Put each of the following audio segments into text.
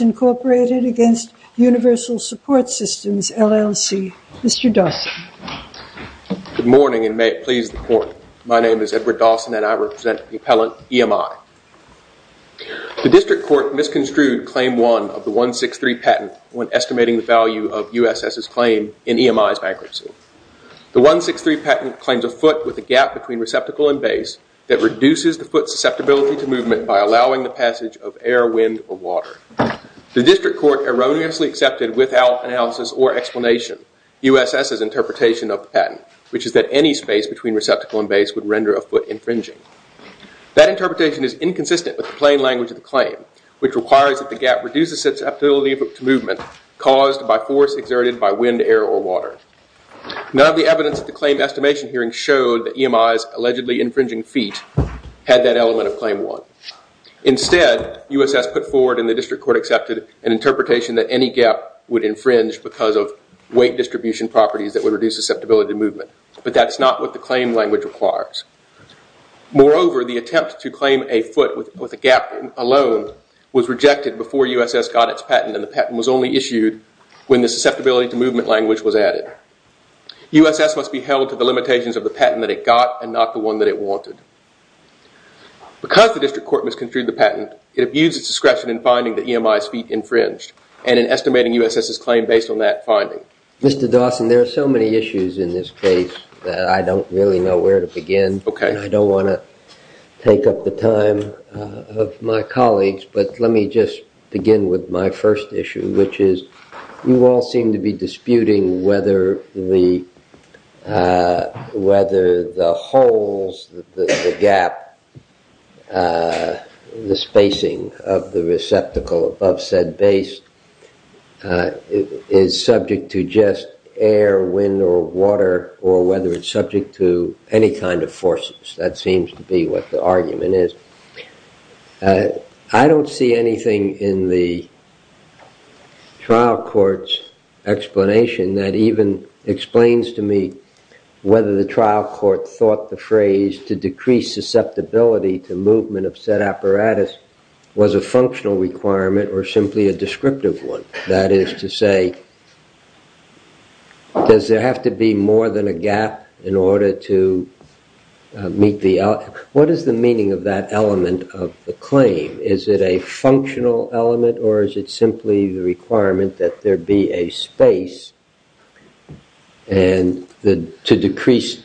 Incorporated against Universal Support Systems, LLC, Mr. Dawson. Good morning and may it please the Court, my name is Edward Dawson and I represent the when estimating the value of USS's claim in EMI's bankruptcy. The 163 patent claims a foot with a gap between receptacle and base that reduces the foot's susceptibility to movement by allowing the passage of air, wind, or water. The District Court erroneously accepted without analysis or explanation USS's interpretation of the patent, which is that any space between receptacle and base would render a foot infringing. That interpretation is inconsistent with the plain language of the claim, which requires that the gap reduces susceptibility to movement caused by force exerted by wind, air, or water. None of the evidence at the claim estimation hearing showed that EMI's allegedly infringing feet had that element of claim one. Instead, USS put forward and the District Court accepted an interpretation that any gap would infringe because of weight distribution properties that would reduce susceptibility to movement, but that's not what the claim language requires. Moreover, the attempt to claim a foot with a gap alone was rejected before USS got its patent and the patent was only issued when the susceptibility to movement language was added. USS must be held to the limitations of the patent that it got and not the one that it wanted. Because the District Court misconstrued the patent, it abused its discretion in finding that EMI's feet infringed and in estimating USS's claim based on that finding. Mr. Dawson, there are so many issues in this case that I don't really know where to begin and I don't want to take up the time of my colleagues, but let me just begin with my first issue, which is you all seem to be disputing whether the holes, the gap, the spacing of the receptacle above said base is subject to just air, wind, or water, or whether it's subject to any kind of forces. That seems to be what the argument is. I don't see anything in the trial court's explanation that even explains to me whether the trial court thought the phrase to decrease susceptibility to movement of said apparatus was a functional requirement or simply a descriptive one. That is to say, does there have to be more than a gap in order to meet the... What is the meaning of that element of the claim? Is it a functional element or is it simply the requirement that there be a space and to decrease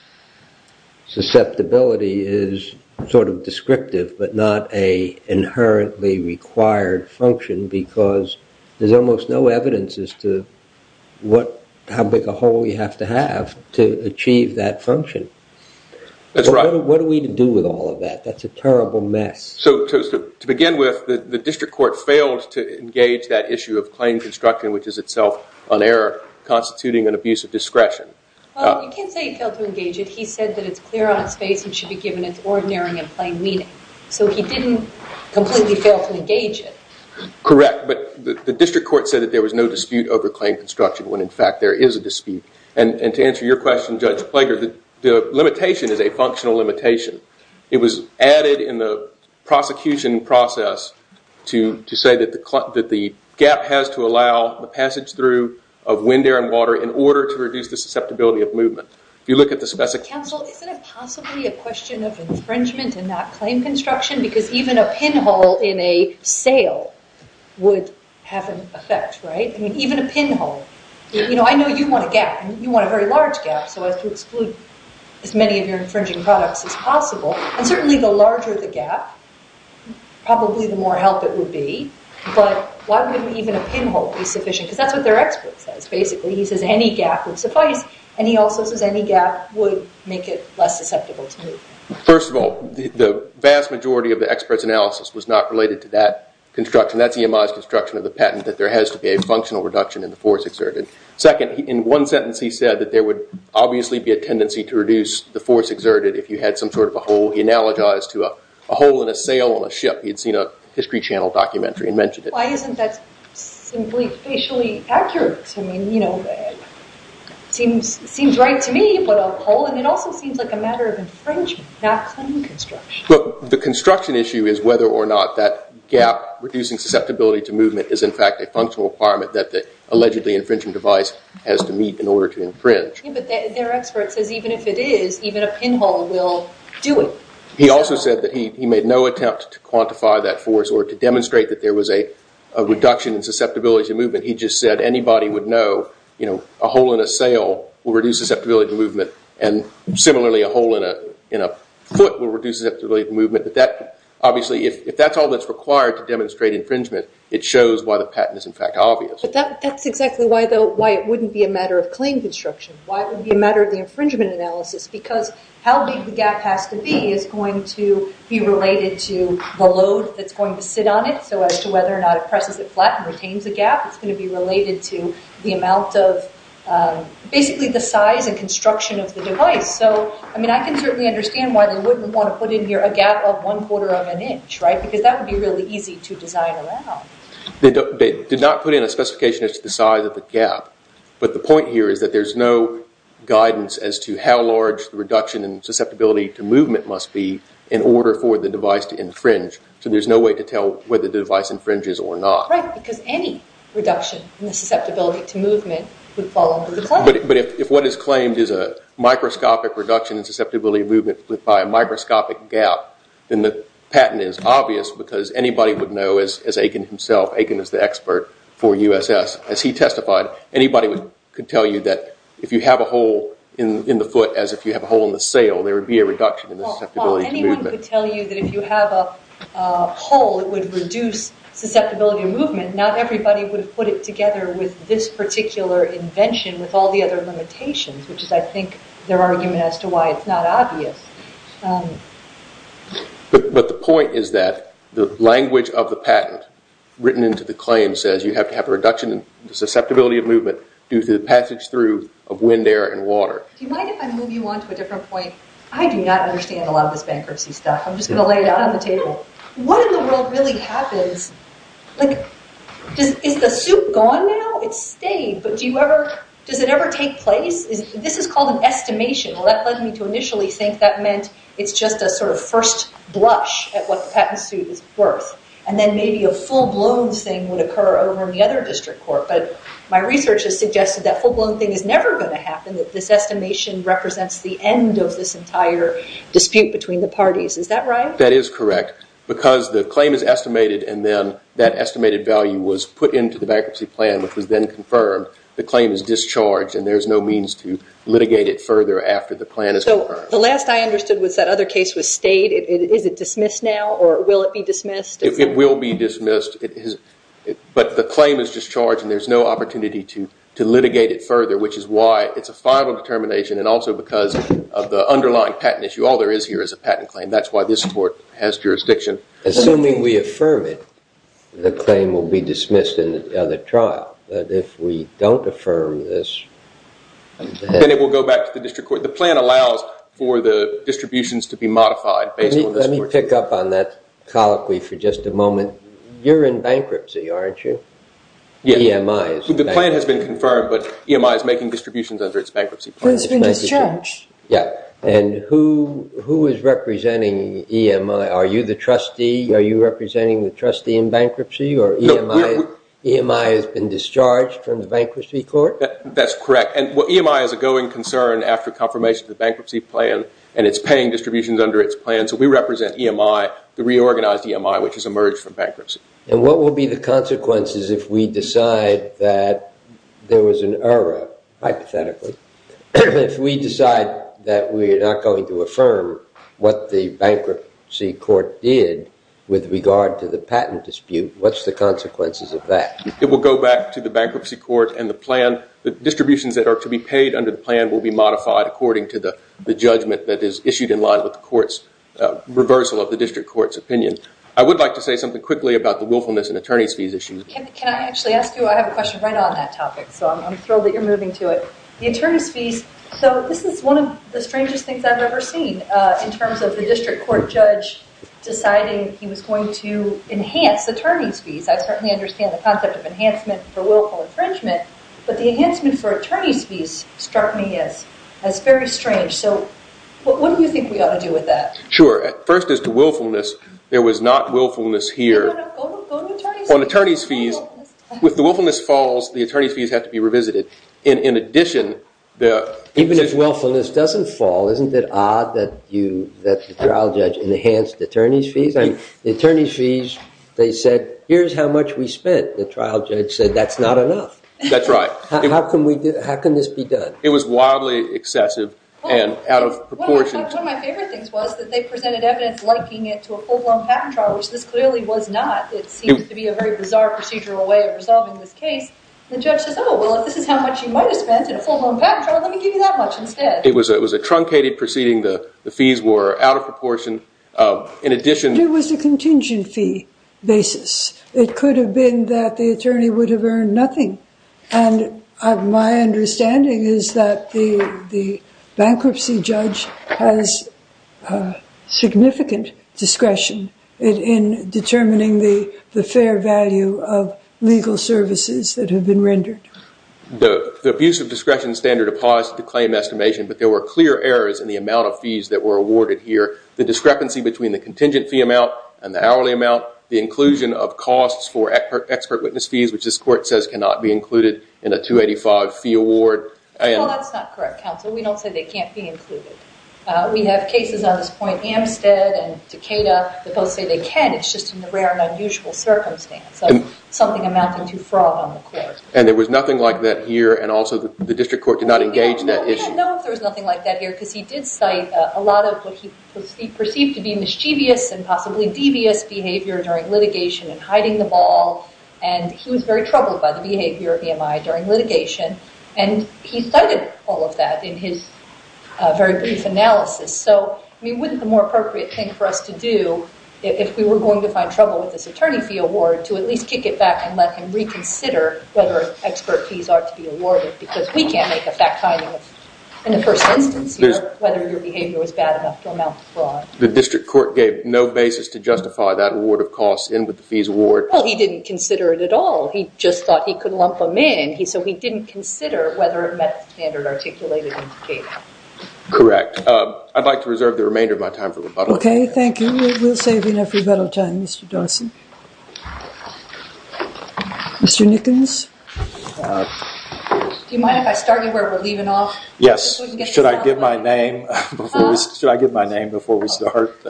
susceptibility is sort of descriptive but not an inherently required function because there's almost no evidence as to how big a hole you have to have to achieve that function. That's right. What are we to do with all of that? That's a terrible mess. To begin with, the district court failed to engage that issue of claim construction, which constituting an abuse of discretion. You can't say he failed to engage it. He said that it's clear on its face and should be given its ordinary and plain meaning. He didn't completely fail to engage it. Correct, but the district court said that there was no dispute over claim construction when, in fact, there is a dispute. To answer your question, Judge Plager, the limitation is a functional limitation. It was added in the prosecution process to say that the gap has to allow the passage through of wind air and water in order to reduce the susceptibility of movement. If you look at the... Counsel, isn't it possibly a question of infringement and not claim construction because even a pinhole in a sale would have an effect, right? Even a pinhole. I know you want a gap. You want a very large gap so as to exclude as many of your infringing products as possible. Certainly, the larger the gap, probably the more help it would be, but why would even a pinhole be sufficient? Because that's what their expert says, basically. He says any gap would suffice, and he also says any gap would make it less susceptible to movement. First of all, the vast majority of the expert's analysis was not related to that construction. That's EMI's construction of the patent that there has to be a functional reduction in the force exerted. Second, in one sentence he said that there would obviously be a tendency to reduce the force exerted if you had some sort of a hole. He analogized to a hole in a sail on a ship. He had seen a History Channel documentary and mentioned it. Why isn't that simply facially accurate? It seems right to me, but a hole in it also seems like a matter of infringement, not claim construction. Look, the construction issue is whether or not that gap reducing susceptibility to movement is in fact a functional requirement that the allegedly infringement device has to meet in order to infringe. But their expert says even if it is, even a pinhole will do it. He also said that he made no attempt to quantify that force or to demonstrate that there was a reduction in susceptibility to movement. He just said anybody would know a hole in a sail will reduce susceptibility to movement, but obviously if that's all that's required to demonstrate infringement, it shows why the patent is in fact obvious. But that's exactly why it wouldn't be a matter of claim construction. Why it would be a matter of the infringement analysis, because how big the gap has to be is going to be related to the load that's going to sit on it, so as to whether or not it presses it flat and retains the gap. It's going to be related to the amount of, basically the size and construction of the device. I can certainly understand why they wouldn't want to put in here a gap of one quarter of an inch, right? Because that would be really easy to design around. They did not put in a specification as to the size of the gap, but the point here is that there's no guidance as to how large the reduction in susceptibility to movement must be in order for the device to infringe. So there's no way to tell whether the device infringes or not. Right, because any reduction in the susceptibility to movement would fall under the claim. But if what is claimed is a microscopic reduction in susceptibility to movement by a microscopic gap, then the patent is obvious because anybody would know, as Aiken himself, Aiken is the expert for USS, as he testified, anybody could tell you that if you have a hole in the foot as if you have a hole in the sail, there would be a reduction in the susceptibility to movement. Well, anyone could tell you that if you have a hole, it would reduce susceptibility to movement. And not everybody would have put it together with this particular invention with all the other limitations, which is, I think, their argument as to why it's not obvious. But the point is that the language of the patent written into the claim says you have to have a reduction in susceptibility of movement due to the passage through of wind, air, and water. Do you mind if I move you on to a different point? I do not understand a lot of this bankruptcy stuff. I'm just going to lay it out on the table. What in the world really happens? Is the suit gone now? It stayed. But does it ever take place? This is called an estimation. Well, that led me to initially think that meant it's just a sort of first blush at what the patent suit is worth. And then maybe a full-blown thing would occur over in the other district court. But my research has suggested that full-blown thing is never going to happen, that this estimation represents the end of this entire dispute between the parties. Is that right? That is correct. Because the claim is estimated and then that estimated value was put into the bankruptcy plan, which was then confirmed, the claim is discharged and there's no means to litigate it further after the plan is confirmed. The last I understood was that other case was stayed. Is it dismissed now or will it be dismissed? It will be dismissed. But the claim is discharged and there's no opportunity to litigate it further, which is why it's a final determination and also because of the underlying patent issue. All there is here is a patent claim. And that's why this court has jurisdiction. Assuming we affirm it, the claim will be dismissed in the trial. But if we don't affirm this, then it will go back to the district court. The plan allows for the distributions to be modified based on this court's decision. Let me pick up on that colloquy for just a moment. You're in bankruptcy, aren't you? Yeah. EMI is bankrupt. The plan has been confirmed, but EMI is making distributions under its bankruptcy plan. Who's been discharged? Yeah. And who is representing EMI? Are you the trustee? Are you representing the trustee in bankruptcy or EMI has been discharged from the bankruptcy court? That's correct. EMI is a going concern after confirmation of the bankruptcy plan and it's paying distributions under its plan. So we represent EMI, the reorganized EMI, which has emerged from bankruptcy. And what will be the consequences if we decide that there was an error, hypothetically, if we decide that we are not going to affirm what the bankruptcy court did with regard to the patent dispute? What's the consequences of that? It will go back to the bankruptcy court and the plan, the distributions that are to be paid under the plan, will be modified according to the judgment that is issued in line with the court's reversal of the district court's opinion. I would like to say something quickly about the willfulness and attorney's fees issue. Can I actually ask you? I have a question right on that topic, so I'm thrilled that you're moving to it. The attorney's fees, so this is one of the strangest things I've ever seen in terms of the district court judge deciding he was going to enhance attorney's fees. I certainly understand the concept of enhancement for willful infringement, but the enhancement for attorney's fees struck me as very strange. So what do you think we ought to do with that? Sure. First, as to willfulness, there was not willfulness here. Go to attorney's fees. With the willfulness falls, the attorney's fees have to be revisited. In addition, the- Even if willfulness doesn't fall, isn't it odd that the trial judge enhanced attorney's fees? The attorney's fees, they said, here's how much we spent. The trial judge said, that's not enough. That's right. How can this be done? It was wildly excessive and out of proportion. One of my favorite things was that they presented evidence liking it to a full-blown patent trial, which this clearly was not. It seems to be a very bizarre procedural way of resolving this case. The judge says, oh, well, if this is how much you might have spent in a full-blown patent trial, let me give you that much instead. It was a truncated proceeding. The fees were out of proportion. In addition- It was a contingent fee basis. It could have been that the attorney would have earned nothing. And my understanding is that the bankruptcy judge has significant discretion in determining the fair value of legal services that have been rendered. The abuse of discretion standard applies to the claim estimation, but there were clear errors in the amount of fees that were awarded here, the discrepancy between the contingent fee amount and the hourly amount, the inclusion of costs for expert witness fees, which this court says cannot be included in a 285 fee award. Well, that's not correct, counsel. We don't say they can't be included. We have cases on this point, Amstead and Takeda, that both say they can. It's just in the rare and unusual circumstance of something amounting to fraud on the court. And there was nothing like that here, and also the district court did not engage in that issue. No, we don't know if there was nothing like that here because he did cite a lot of what he perceived to be mischievous and possibly devious behavior during litigation and hiding the ball, and he was very troubled by the behavior of EMI during litigation, and he cited all of that in his very brief analysis. So, I mean, wouldn't the more appropriate thing for us to do, if we were going to find trouble with this attorney fee award, to at least kick it back and let him reconsider whether expert fees ought to be awarded because we can't make a fact finding in the first instance here whether your behavior was bad enough to amount to fraud. The district court gave no basis to justify that award of costs in with the fees award. Well, he didn't consider it at all. He just thought he could lump them in, so he didn't consider whether it met the standard articulated in Takeda. Correct. I'd like to reserve the remainder of my time for rebuttal. Okay, thank you. We'll save you enough rebuttal time, Mr. Dawson. Mr. Nickens? Do you mind if I start you where we're leaving off? Yes. Should I give my name before we start?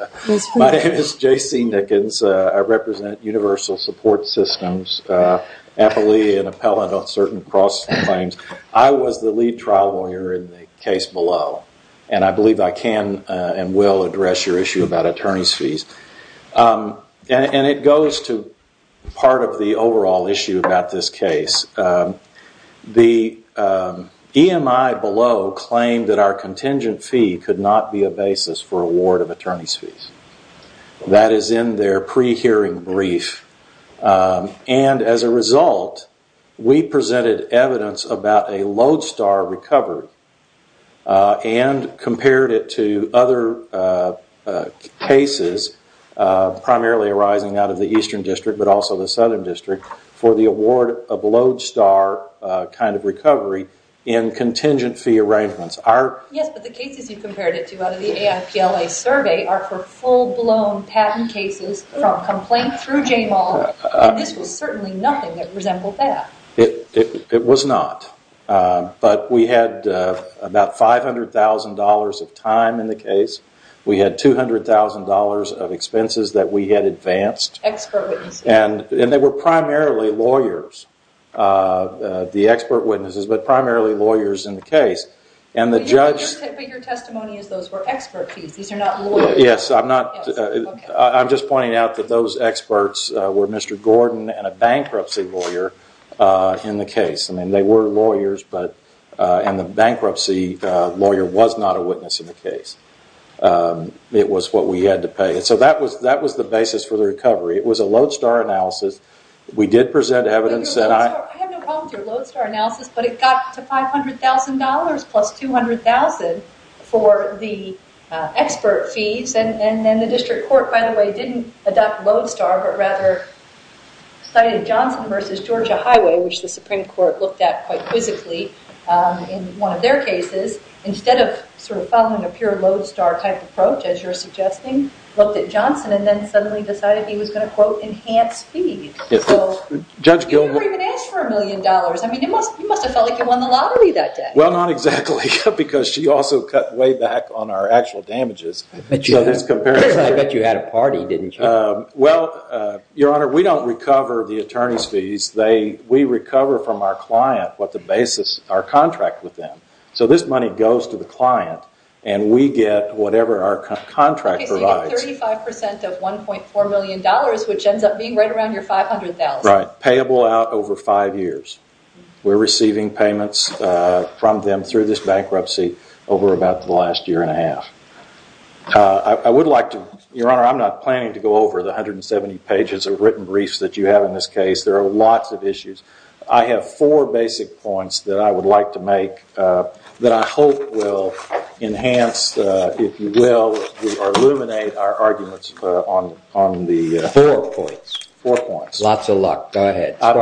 My name is J.C. Nickens. I represent Universal Support Systems, appellee and appellate on certain cross-claims. I was the lead trial lawyer in the case below, and I believe I can and will address your issue about attorney's fees. And it goes to part of the overall issue about this case. The EMI below claimed that our contingent fee could not be a basis for award of attorney's fees. That is in their pre-hearing brief. And as a result, we presented evidence about a Lodestar recovery and compared it to other cases, primarily arising out of the Eastern District, but also the Southern District, for the award of Lodestar kind of recovery in contingent fee arrangements. Yes, but the cases you compared it to out of the AIPLA survey are for full-blown patent cases from complaint through JMAL, and this was certainly nothing that resembled that. It was not. But we had about $500,000 of time in the case. We had $200,000 of expenses that we had advanced. Expert witnesses. And they were primarily lawyers, the expert witnesses, but primarily lawyers in the case. But your testimony is those were expert fees. These are not lawyers. Yes, I'm just pointing out that those experts were Mr. Gordon and a bankruptcy lawyer in the case. I mean, they were lawyers, and the bankruptcy lawyer was not a witness in the case. It was what we had to pay. So that was the basis for the recovery. It was a Lodestar analysis. We did present evidence. I have no problem with your Lodestar analysis, but it got to $500,000 plus $200,000 for the expert fees. And then the district court, by the way, didn't adopt Lodestar, but rather cited Johnson v. Georgia Highway, which the Supreme Court looked at quite quizzically in one of their cases. Instead of sort of following a pure Lodestar-type approach, as you're suggesting, looked at Johnson and then suddenly decided he was going to, quote, enhance fees. So you never even asked for a million dollars. I mean, you must have felt like you won the lottery that day. Well, not exactly, because she also cut way back on our actual damages. I bet you had a party, didn't you? Well, Your Honor, we don't recover the attorney's fees. We recover from our client what the basis of our contract with them. So this money goes to the client, and we get whatever our contract provides. So you get 35% of $1.4 million, which ends up being right around your $500,000. Right, payable out over five years. We're receiving payments from them through this bankruptcy over about the last year and a half. I would like to – Your Honor, I'm not planning to go over the 170 pages of written briefs that you have in this case. There are lots of issues. I have four basic points that I would like to make that I hope will enhance, if you will, or illuminate our arguments on the – Four points. Four points. Lots of luck. Go ahead. I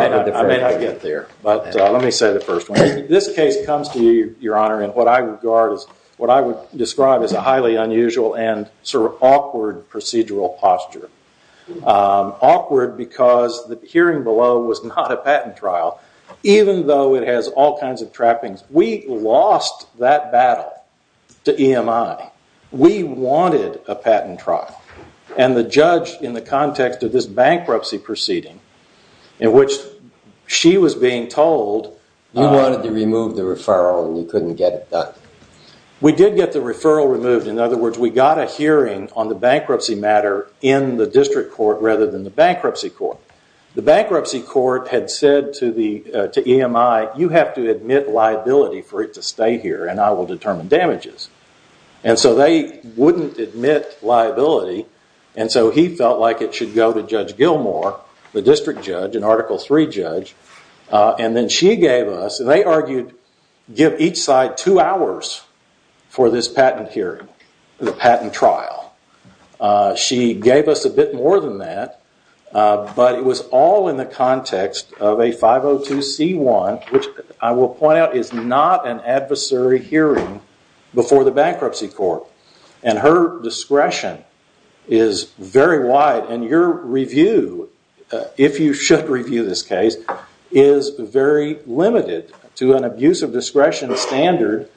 may not get there, but let me say the first one. This case comes to you, Your Honor, in what I regard as – what I would describe as a highly unusual and sort of awkward procedural posture. Awkward because the hearing below was not a patent trial, even though it has all kinds of trappings. We lost that battle to EMI. We wanted a patent trial. The judge, in the context of this bankruptcy proceeding, in which she was being told – You wanted to remove the referral and you couldn't get it done. We did get the referral removed. In other words, we got a hearing on the bankruptcy matter in the district court rather than the bankruptcy court. The bankruptcy court had said to EMI, you have to admit liability for it to stay here and I will determine damages. They wouldn't admit liability. He felt like it should go to Judge Gilmore, the district judge, an Article III judge. Then she gave us – They argued give each side two hours for this patent hearing, the patent trial. She gave us a bit more than that, but it was all in the context of a 502c1, which I will point out is not an adversary hearing before the bankruptcy court. Her discretion is very wide. Your review, if you should review this case, is very limited to an abuse of discretion standard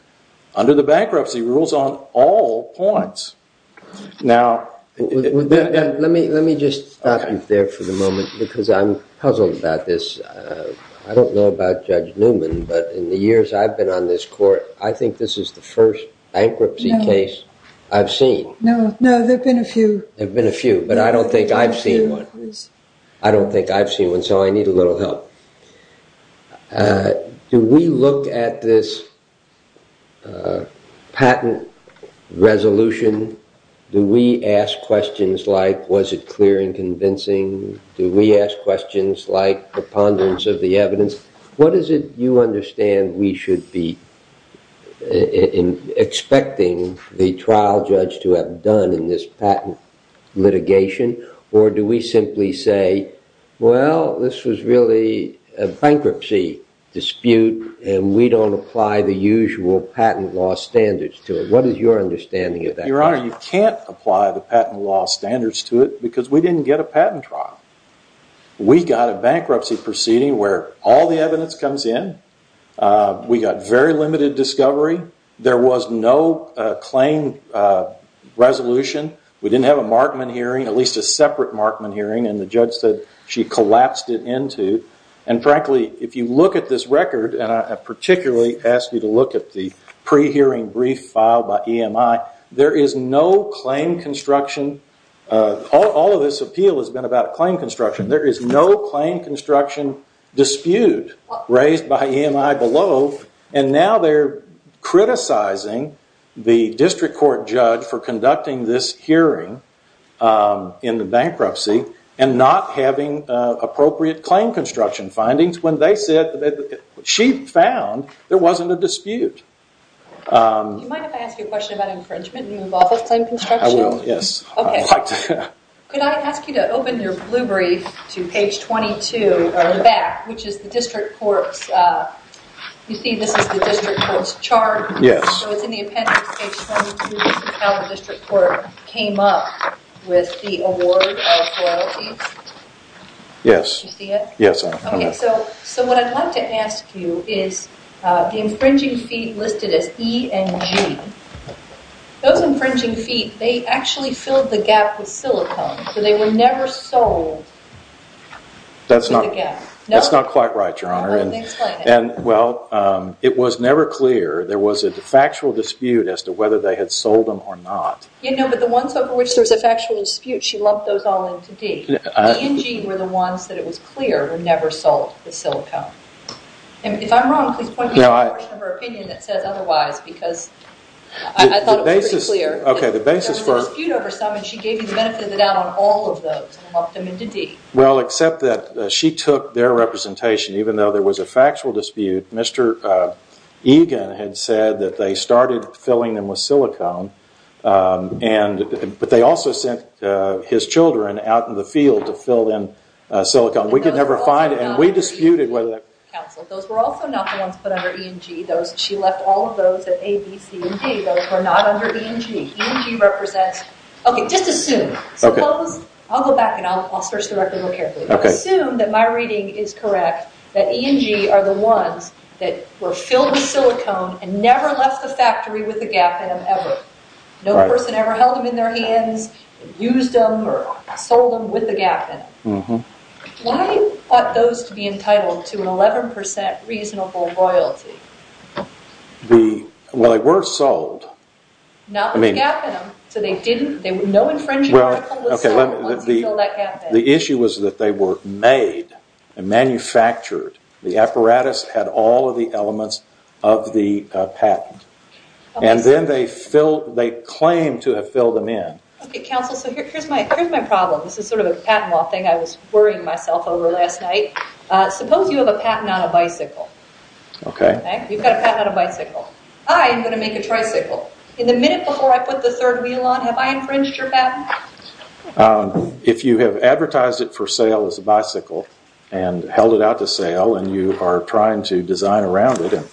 under the bankruptcy rules on all points. Let me just stop you there for the moment because I'm puzzled about this. I don't know about Judge Newman, but in the years I've been on this court, I think this is the first bankruptcy case I've seen. No, there have been a few. There have been a few, but I don't think I've seen one. I don't think I've seen one, so I need a little help. Do we look at this patent resolution? Do we ask questions like, was it clear and convincing? Do we ask questions like a ponderance of the evidence? What is it you understand we should be expecting the trial judge to have done in this patent litigation, or do we simply say, well, this was really a bankruptcy dispute and we don't apply the usual patent law standards to it? What is your understanding of that? Your Honor, you can't apply the patent law standards to it because we didn't get a patent trial. We got a bankruptcy proceeding where all the evidence comes in. We got very limited discovery. There was no claim resolution. We didn't have a Markman hearing, at least a separate Markman hearing, and the judge said she collapsed it into. And frankly, if you look at this record, and I particularly ask you to look at the pre-hearing brief filed by EMI, there is no claim construction. All of this appeal has been about claim construction. There is no claim construction dispute raised by EMI below, and now they're criticizing the district court judge for conducting this hearing in the bankruptcy and not having appropriate claim construction findings when they said, she found there wasn't a dispute. You mind if I ask you a question about infringement and move off of claim construction? I will, yes. Okay. Could I ask you to open your blue brief to page 22 or in the back, which is the district court's, you see this is the district court's chart. Yes. So it's in the appendix, page 22, this is how the district court came up with the award of royalties. Yes. Do you see it? Yes. Okay. So what I'd like to ask you is the infringing feet listed as E and G, those infringing feet, they actually filled the gap with silicone, so they were never sold to the gap. That's not quite right, Your Honor. Explain it. Well, it was never clear. There was a factual dispute as to whether they had sold them or not. Yeah, no, but the ones over which there was a factual dispute, she lumped those all into D. E and G were the ones that it was clear were never sold with silicone. If I'm wrong, please point me to a portion of her opinion that says otherwise, because I thought it was pretty clear. Okay, the basis for it. There was a dispute over some and she gave you the benefit of the doubt on all of those and lumped them into D. Well, except that she took their representation, even though there was a factual dispute, Mr. Egan had said that they started filling them with silicone, but they also sent his children out in the field to fill in silicone. We could never find it and we disputed whether that was true. Those were also not the ones put under E and G. She left all of those at A, B, C, and D. Those were not under E and G. E and G represents, okay, just assume. I'll go back and I'll search the record more carefully. Assume that my reading is correct, that E and G are the ones that were filled with silicone and never left the factory with the gap in them ever. No person ever held them in their hands, used them, or sold them with the gap in them. Why ought those to be entitled to an 11% reasonable royalty? Well, they were sold. Not with the gap in them, so they didn't, no infringement was made once you filled that gap in them. The issue was that they were made and manufactured. The apparatus had all of the elements of the patent and then they claimed to have filled them in. Okay, counsel, so here's my problem. This is sort of a patent law thing I was worrying myself over last night. Suppose you have a patent on a bicycle. Okay. You've got a patent on a bicycle. I am going to make a tricycle. In the minute before I put the third wheel on, have I infringed your patent? If you have advertised it for sale as a bicycle and held it out to sale and you are trying to design around it and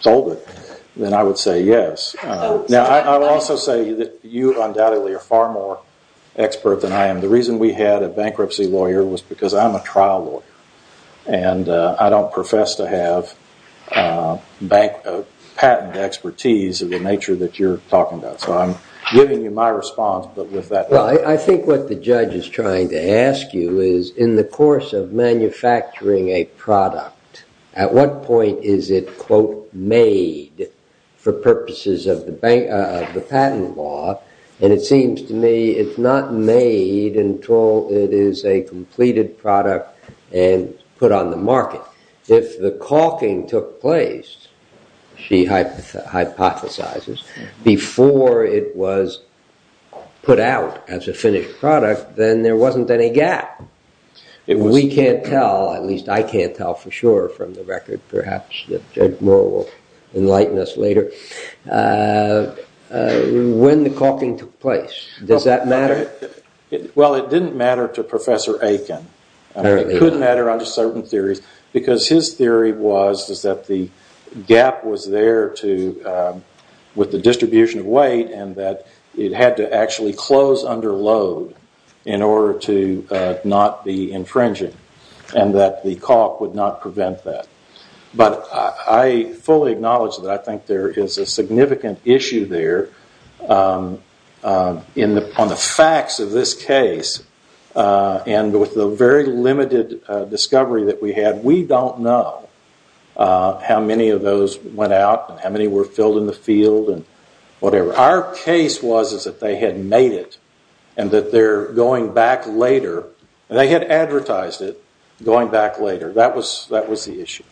sold it, then I would say yes. Now, I will also say that you undoubtedly are far more expert than I am. The reason we had a bankruptcy lawyer was because I'm a trial lawyer and I don't profess to have patent expertise of the nature that you're talking about. So I'm giving you my response, but with that. Well, I think what the judge is trying to ask you is in the course of manufacturing a product, at what point is it, quote, made for purposes of the patent law? And it seems to me it's not made until it is a completed product and put on the market. If the caulking took place, she hypothesizes, before it was put out as a finished product, then there wasn't any gap. We can't tell, at least I can't tell for sure from the record, perhaps Judge Moore will enlighten us later. When the caulking took place, does that matter? Well, it didn't matter to Professor Aiken. It could matter under certain theories because his theory was that the gap was there with the distribution of weight and that it had to actually close under load in order to not be infringing and that the caulk would not prevent that. But I fully acknowledge that I think there is a significant issue there on the facts of this case and with the very limited discovery that we had, we don't know how many of those went out and how many were filled in the field and whatever. Our case was that they had made it and that they're going back later. They had advertised it going back later. That was the issue.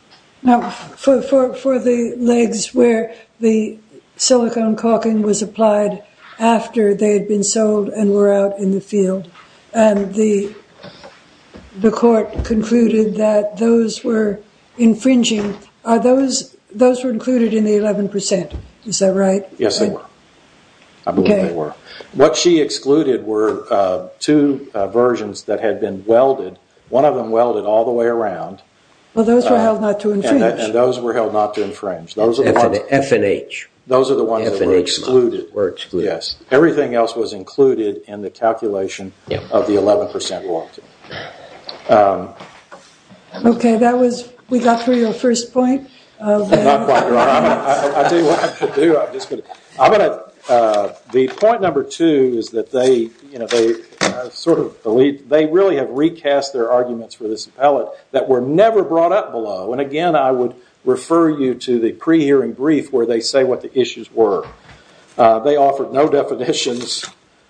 Now, for the legs where the silicone caulking was applied after they had been sold and were out in the field and the court concluded that those were infringing, those were included in the 11%, is that right? Yes, they were. I believe they were. What she excluded were two versions that had been welded. One of them welded all the way around. Well, those were held not to infringe. And those were held not to infringe. F and H. Those are the ones that were excluded. Everything else was included in the calculation of the 11% welding. Okay. We got through your first point? Not quite. I'll tell you what I'm going to do. The point number two is that they really have recast their arguments for this appellate that were never brought up below. And again, I would refer you to the pre-hearing brief where they say what the issues were. They offered no definitions.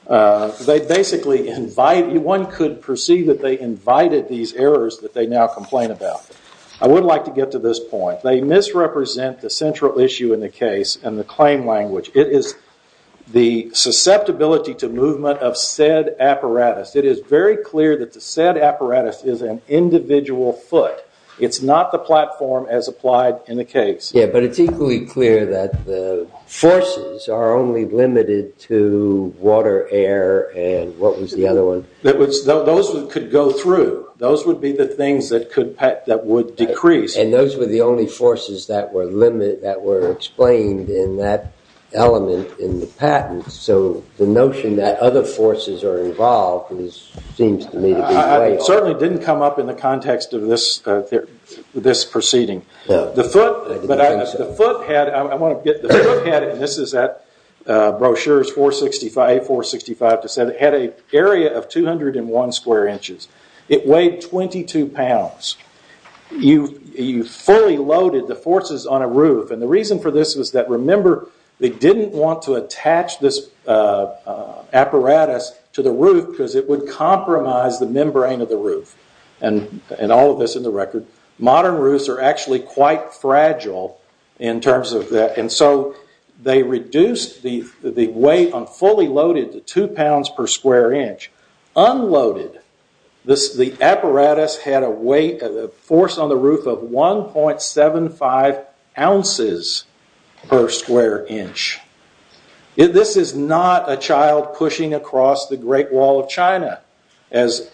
They basically invite you. One could perceive that they invited these errors that they now complain about. I would like to get to this point. They misrepresent the central issue in the case and the claim language. It is the susceptibility to movement of said apparatus. It is very clear that the said apparatus is an individual foot. It's not the platform as applied in the case. Yeah, but it's equally clear that the forces are only limited to water, air, and what was the other one? Those could go through. Those would be the things that would decrease. And those were the only forces that were explained in that element in the patent. So the notion that other forces are involved seems to me to be way off. It certainly didn't come up in the context of this proceeding. The foot had, and this is that brochure, it had an area of 201 square inches. It weighed 22 pounds. You fully loaded the forces on a roof. The reason for this was that, remember, they didn't want to attach this apparatus to the roof because it would compromise the membrane of the roof. And all of this in the record. Modern roofs are actually quite fragile in terms of that. And so they reduced the weight on fully loaded to 2 pounds per square inch. Unloaded, the apparatus had a force on the roof of 1.75 ounces per square inch. This is not a child pushing across the Great Wall of China, as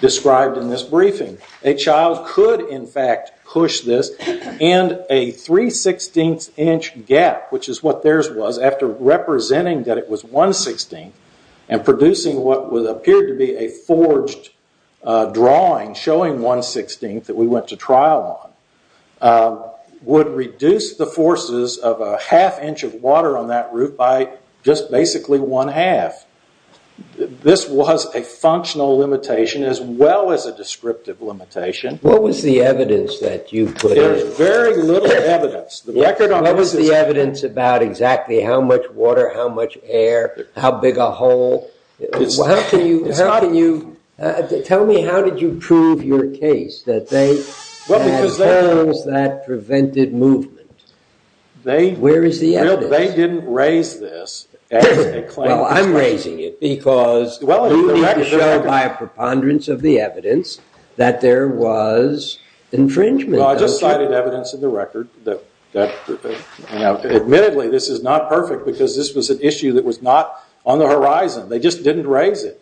described in this briefing. A child could, in fact, push this. And a 3.16 inch gap, which is what theirs was, after representing that it was 1.16, and producing what appeared to be a forged drawing showing 1.16 that we went to trial on, would reduce the forces of a half inch of water on that roof by just basically one half. This was a functional limitation as well as a descriptive limitation. What was the evidence that you put in? There's very little evidence. What was the evidence about exactly how much water, how much air, how big a hole? How can you—tell me, how did you prove your case that they— Well, because they— —had those that prevented movement? Where is the evidence? They didn't raise this as a claim. Well, I'm raising it because you need to show by a preponderance of the evidence that there was infringement. Well, I just cited evidence in the record. Admittedly, this is not perfect because this was an issue that was not on the horizon. They just didn't raise it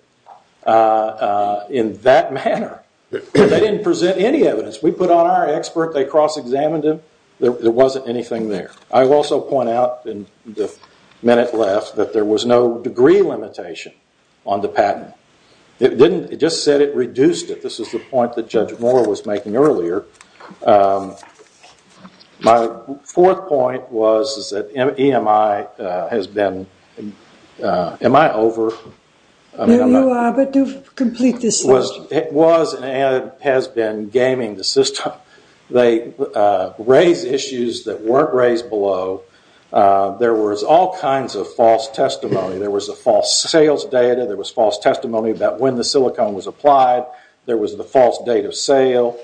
in that manner. They didn't present any evidence. We put on our expert. They cross-examined him. There wasn't anything there. I will also point out in the minute left that there was no degree limitation on the patent. It didn't—it just said it reduced it. This is the point that Judge Moore was making earlier. My fourth point was that EMI has been—am I over? You are, but do complete this question. It was and has been gaming the system. They raised issues that weren't raised below. There was all kinds of false testimony. There was a false sales data. There was false testimony about when the silicone was applied. There was the false date of sale.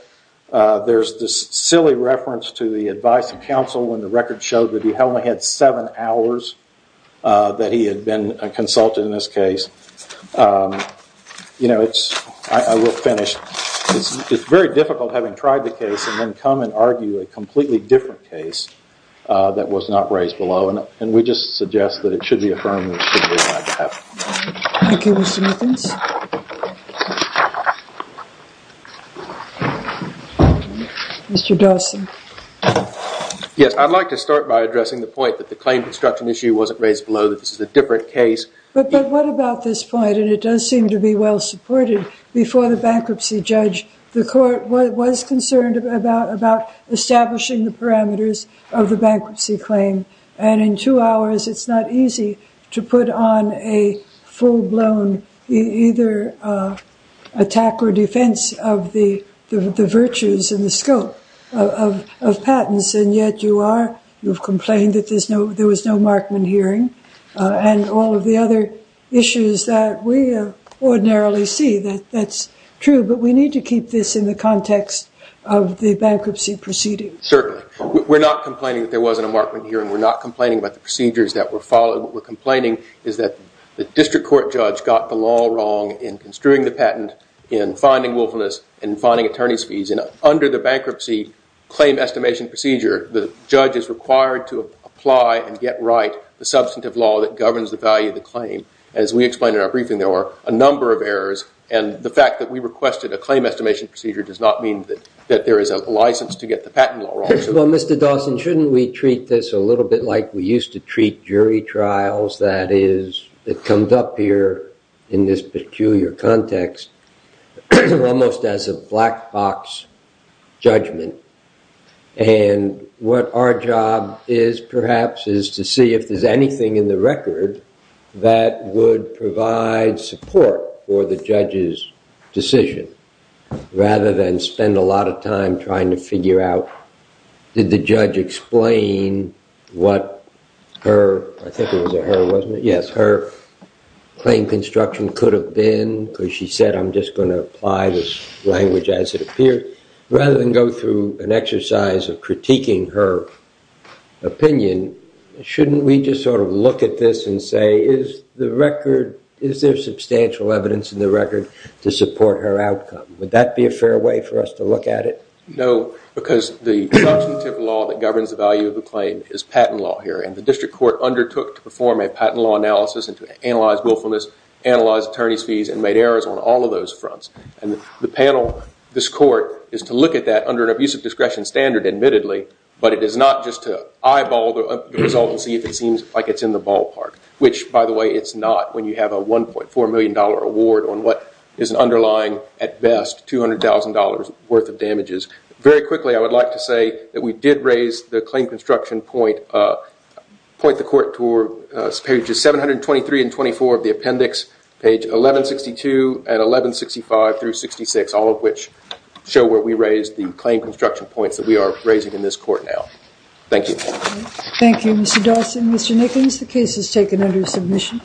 There's this silly reference to the advice of counsel when the record showed that he only had seven hours that he had been consulted in this case. You know, it's—I will finish. It's very difficult having tried the case and then come and argue a completely different case that was not raised below, and we just suggest that it should be affirmed that it should be on my behalf. Thank you, Mr. Mathens. Mr. Dawson. Yes, I'd like to start by addressing the point that the claim construction issue wasn't raised below, that this is a different case. But what about this point? And it does seem to be well supported. Before the bankruptcy judge, the court was concerned about establishing the parameters of the bankruptcy claim. And in two hours, it's not easy to put on a full-blown either attack or defense of the virtues and the scope of patents. And yet you are—you've complained that there was no Markman hearing. And all of the other issues that we ordinarily see, that's true. But we need to keep this in the context of the bankruptcy proceedings. Certainly. We're not complaining that there wasn't a Markman hearing. We're not complaining about the procedures that were followed. What we're complaining is that the district court judge got the law wrong in construing the patent, in finding willfulness, in finding attorney's fees. And under the bankruptcy claim estimation procedure, the judge is required to apply and get right the substantive law that governs the value of the claim. As we explained in our briefing, there were a number of errors. And the fact that we requested a claim estimation procedure does not mean that there is a license to get the patent law wrong. Well, Mr. Dawson, shouldn't we treat this a little bit like we used to treat jury trials? That is, it comes up here in this peculiar context almost as a black box judgment. And what our job is, perhaps, is to see if there's anything in the record that would provide support for the judge's decision, rather than spend a lot of time trying to figure out, did the judge explain what her claim construction could have been? Because she said, I'm just going to apply this language as it appears. Rather than go through an exercise of critiquing her opinion, shouldn't we just sort of look at this and say, is there substantial evidence in the record to support her outcome? Would that be a fair way for us to look at it? No, because the substantive law that governs the value of the claim is patent law here. And the district court undertook to perform a patent law analysis and to analyze willfulness, analyze attorney's fees, and made errors on all of those fronts. And the panel, this court, is to look at that under an abusive discretion standard, admittedly, but it is not just to eyeball the result and see if it seems like it's in the ballpark. Which, by the way, it's not when you have a $1.4 million award on what is an underlying, at best, $200,000 worth of damages. Very quickly, I would like to say that we did raise the claim construction point, point the court toward pages 723 and 724 of the appendix, page 1162 and 1165 through 66, all of which show where we raised the claim construction points that we are raising in this court now. Thank you. Thank you, Mr. Dawson. Mr. Nickens, the case is taken under submission.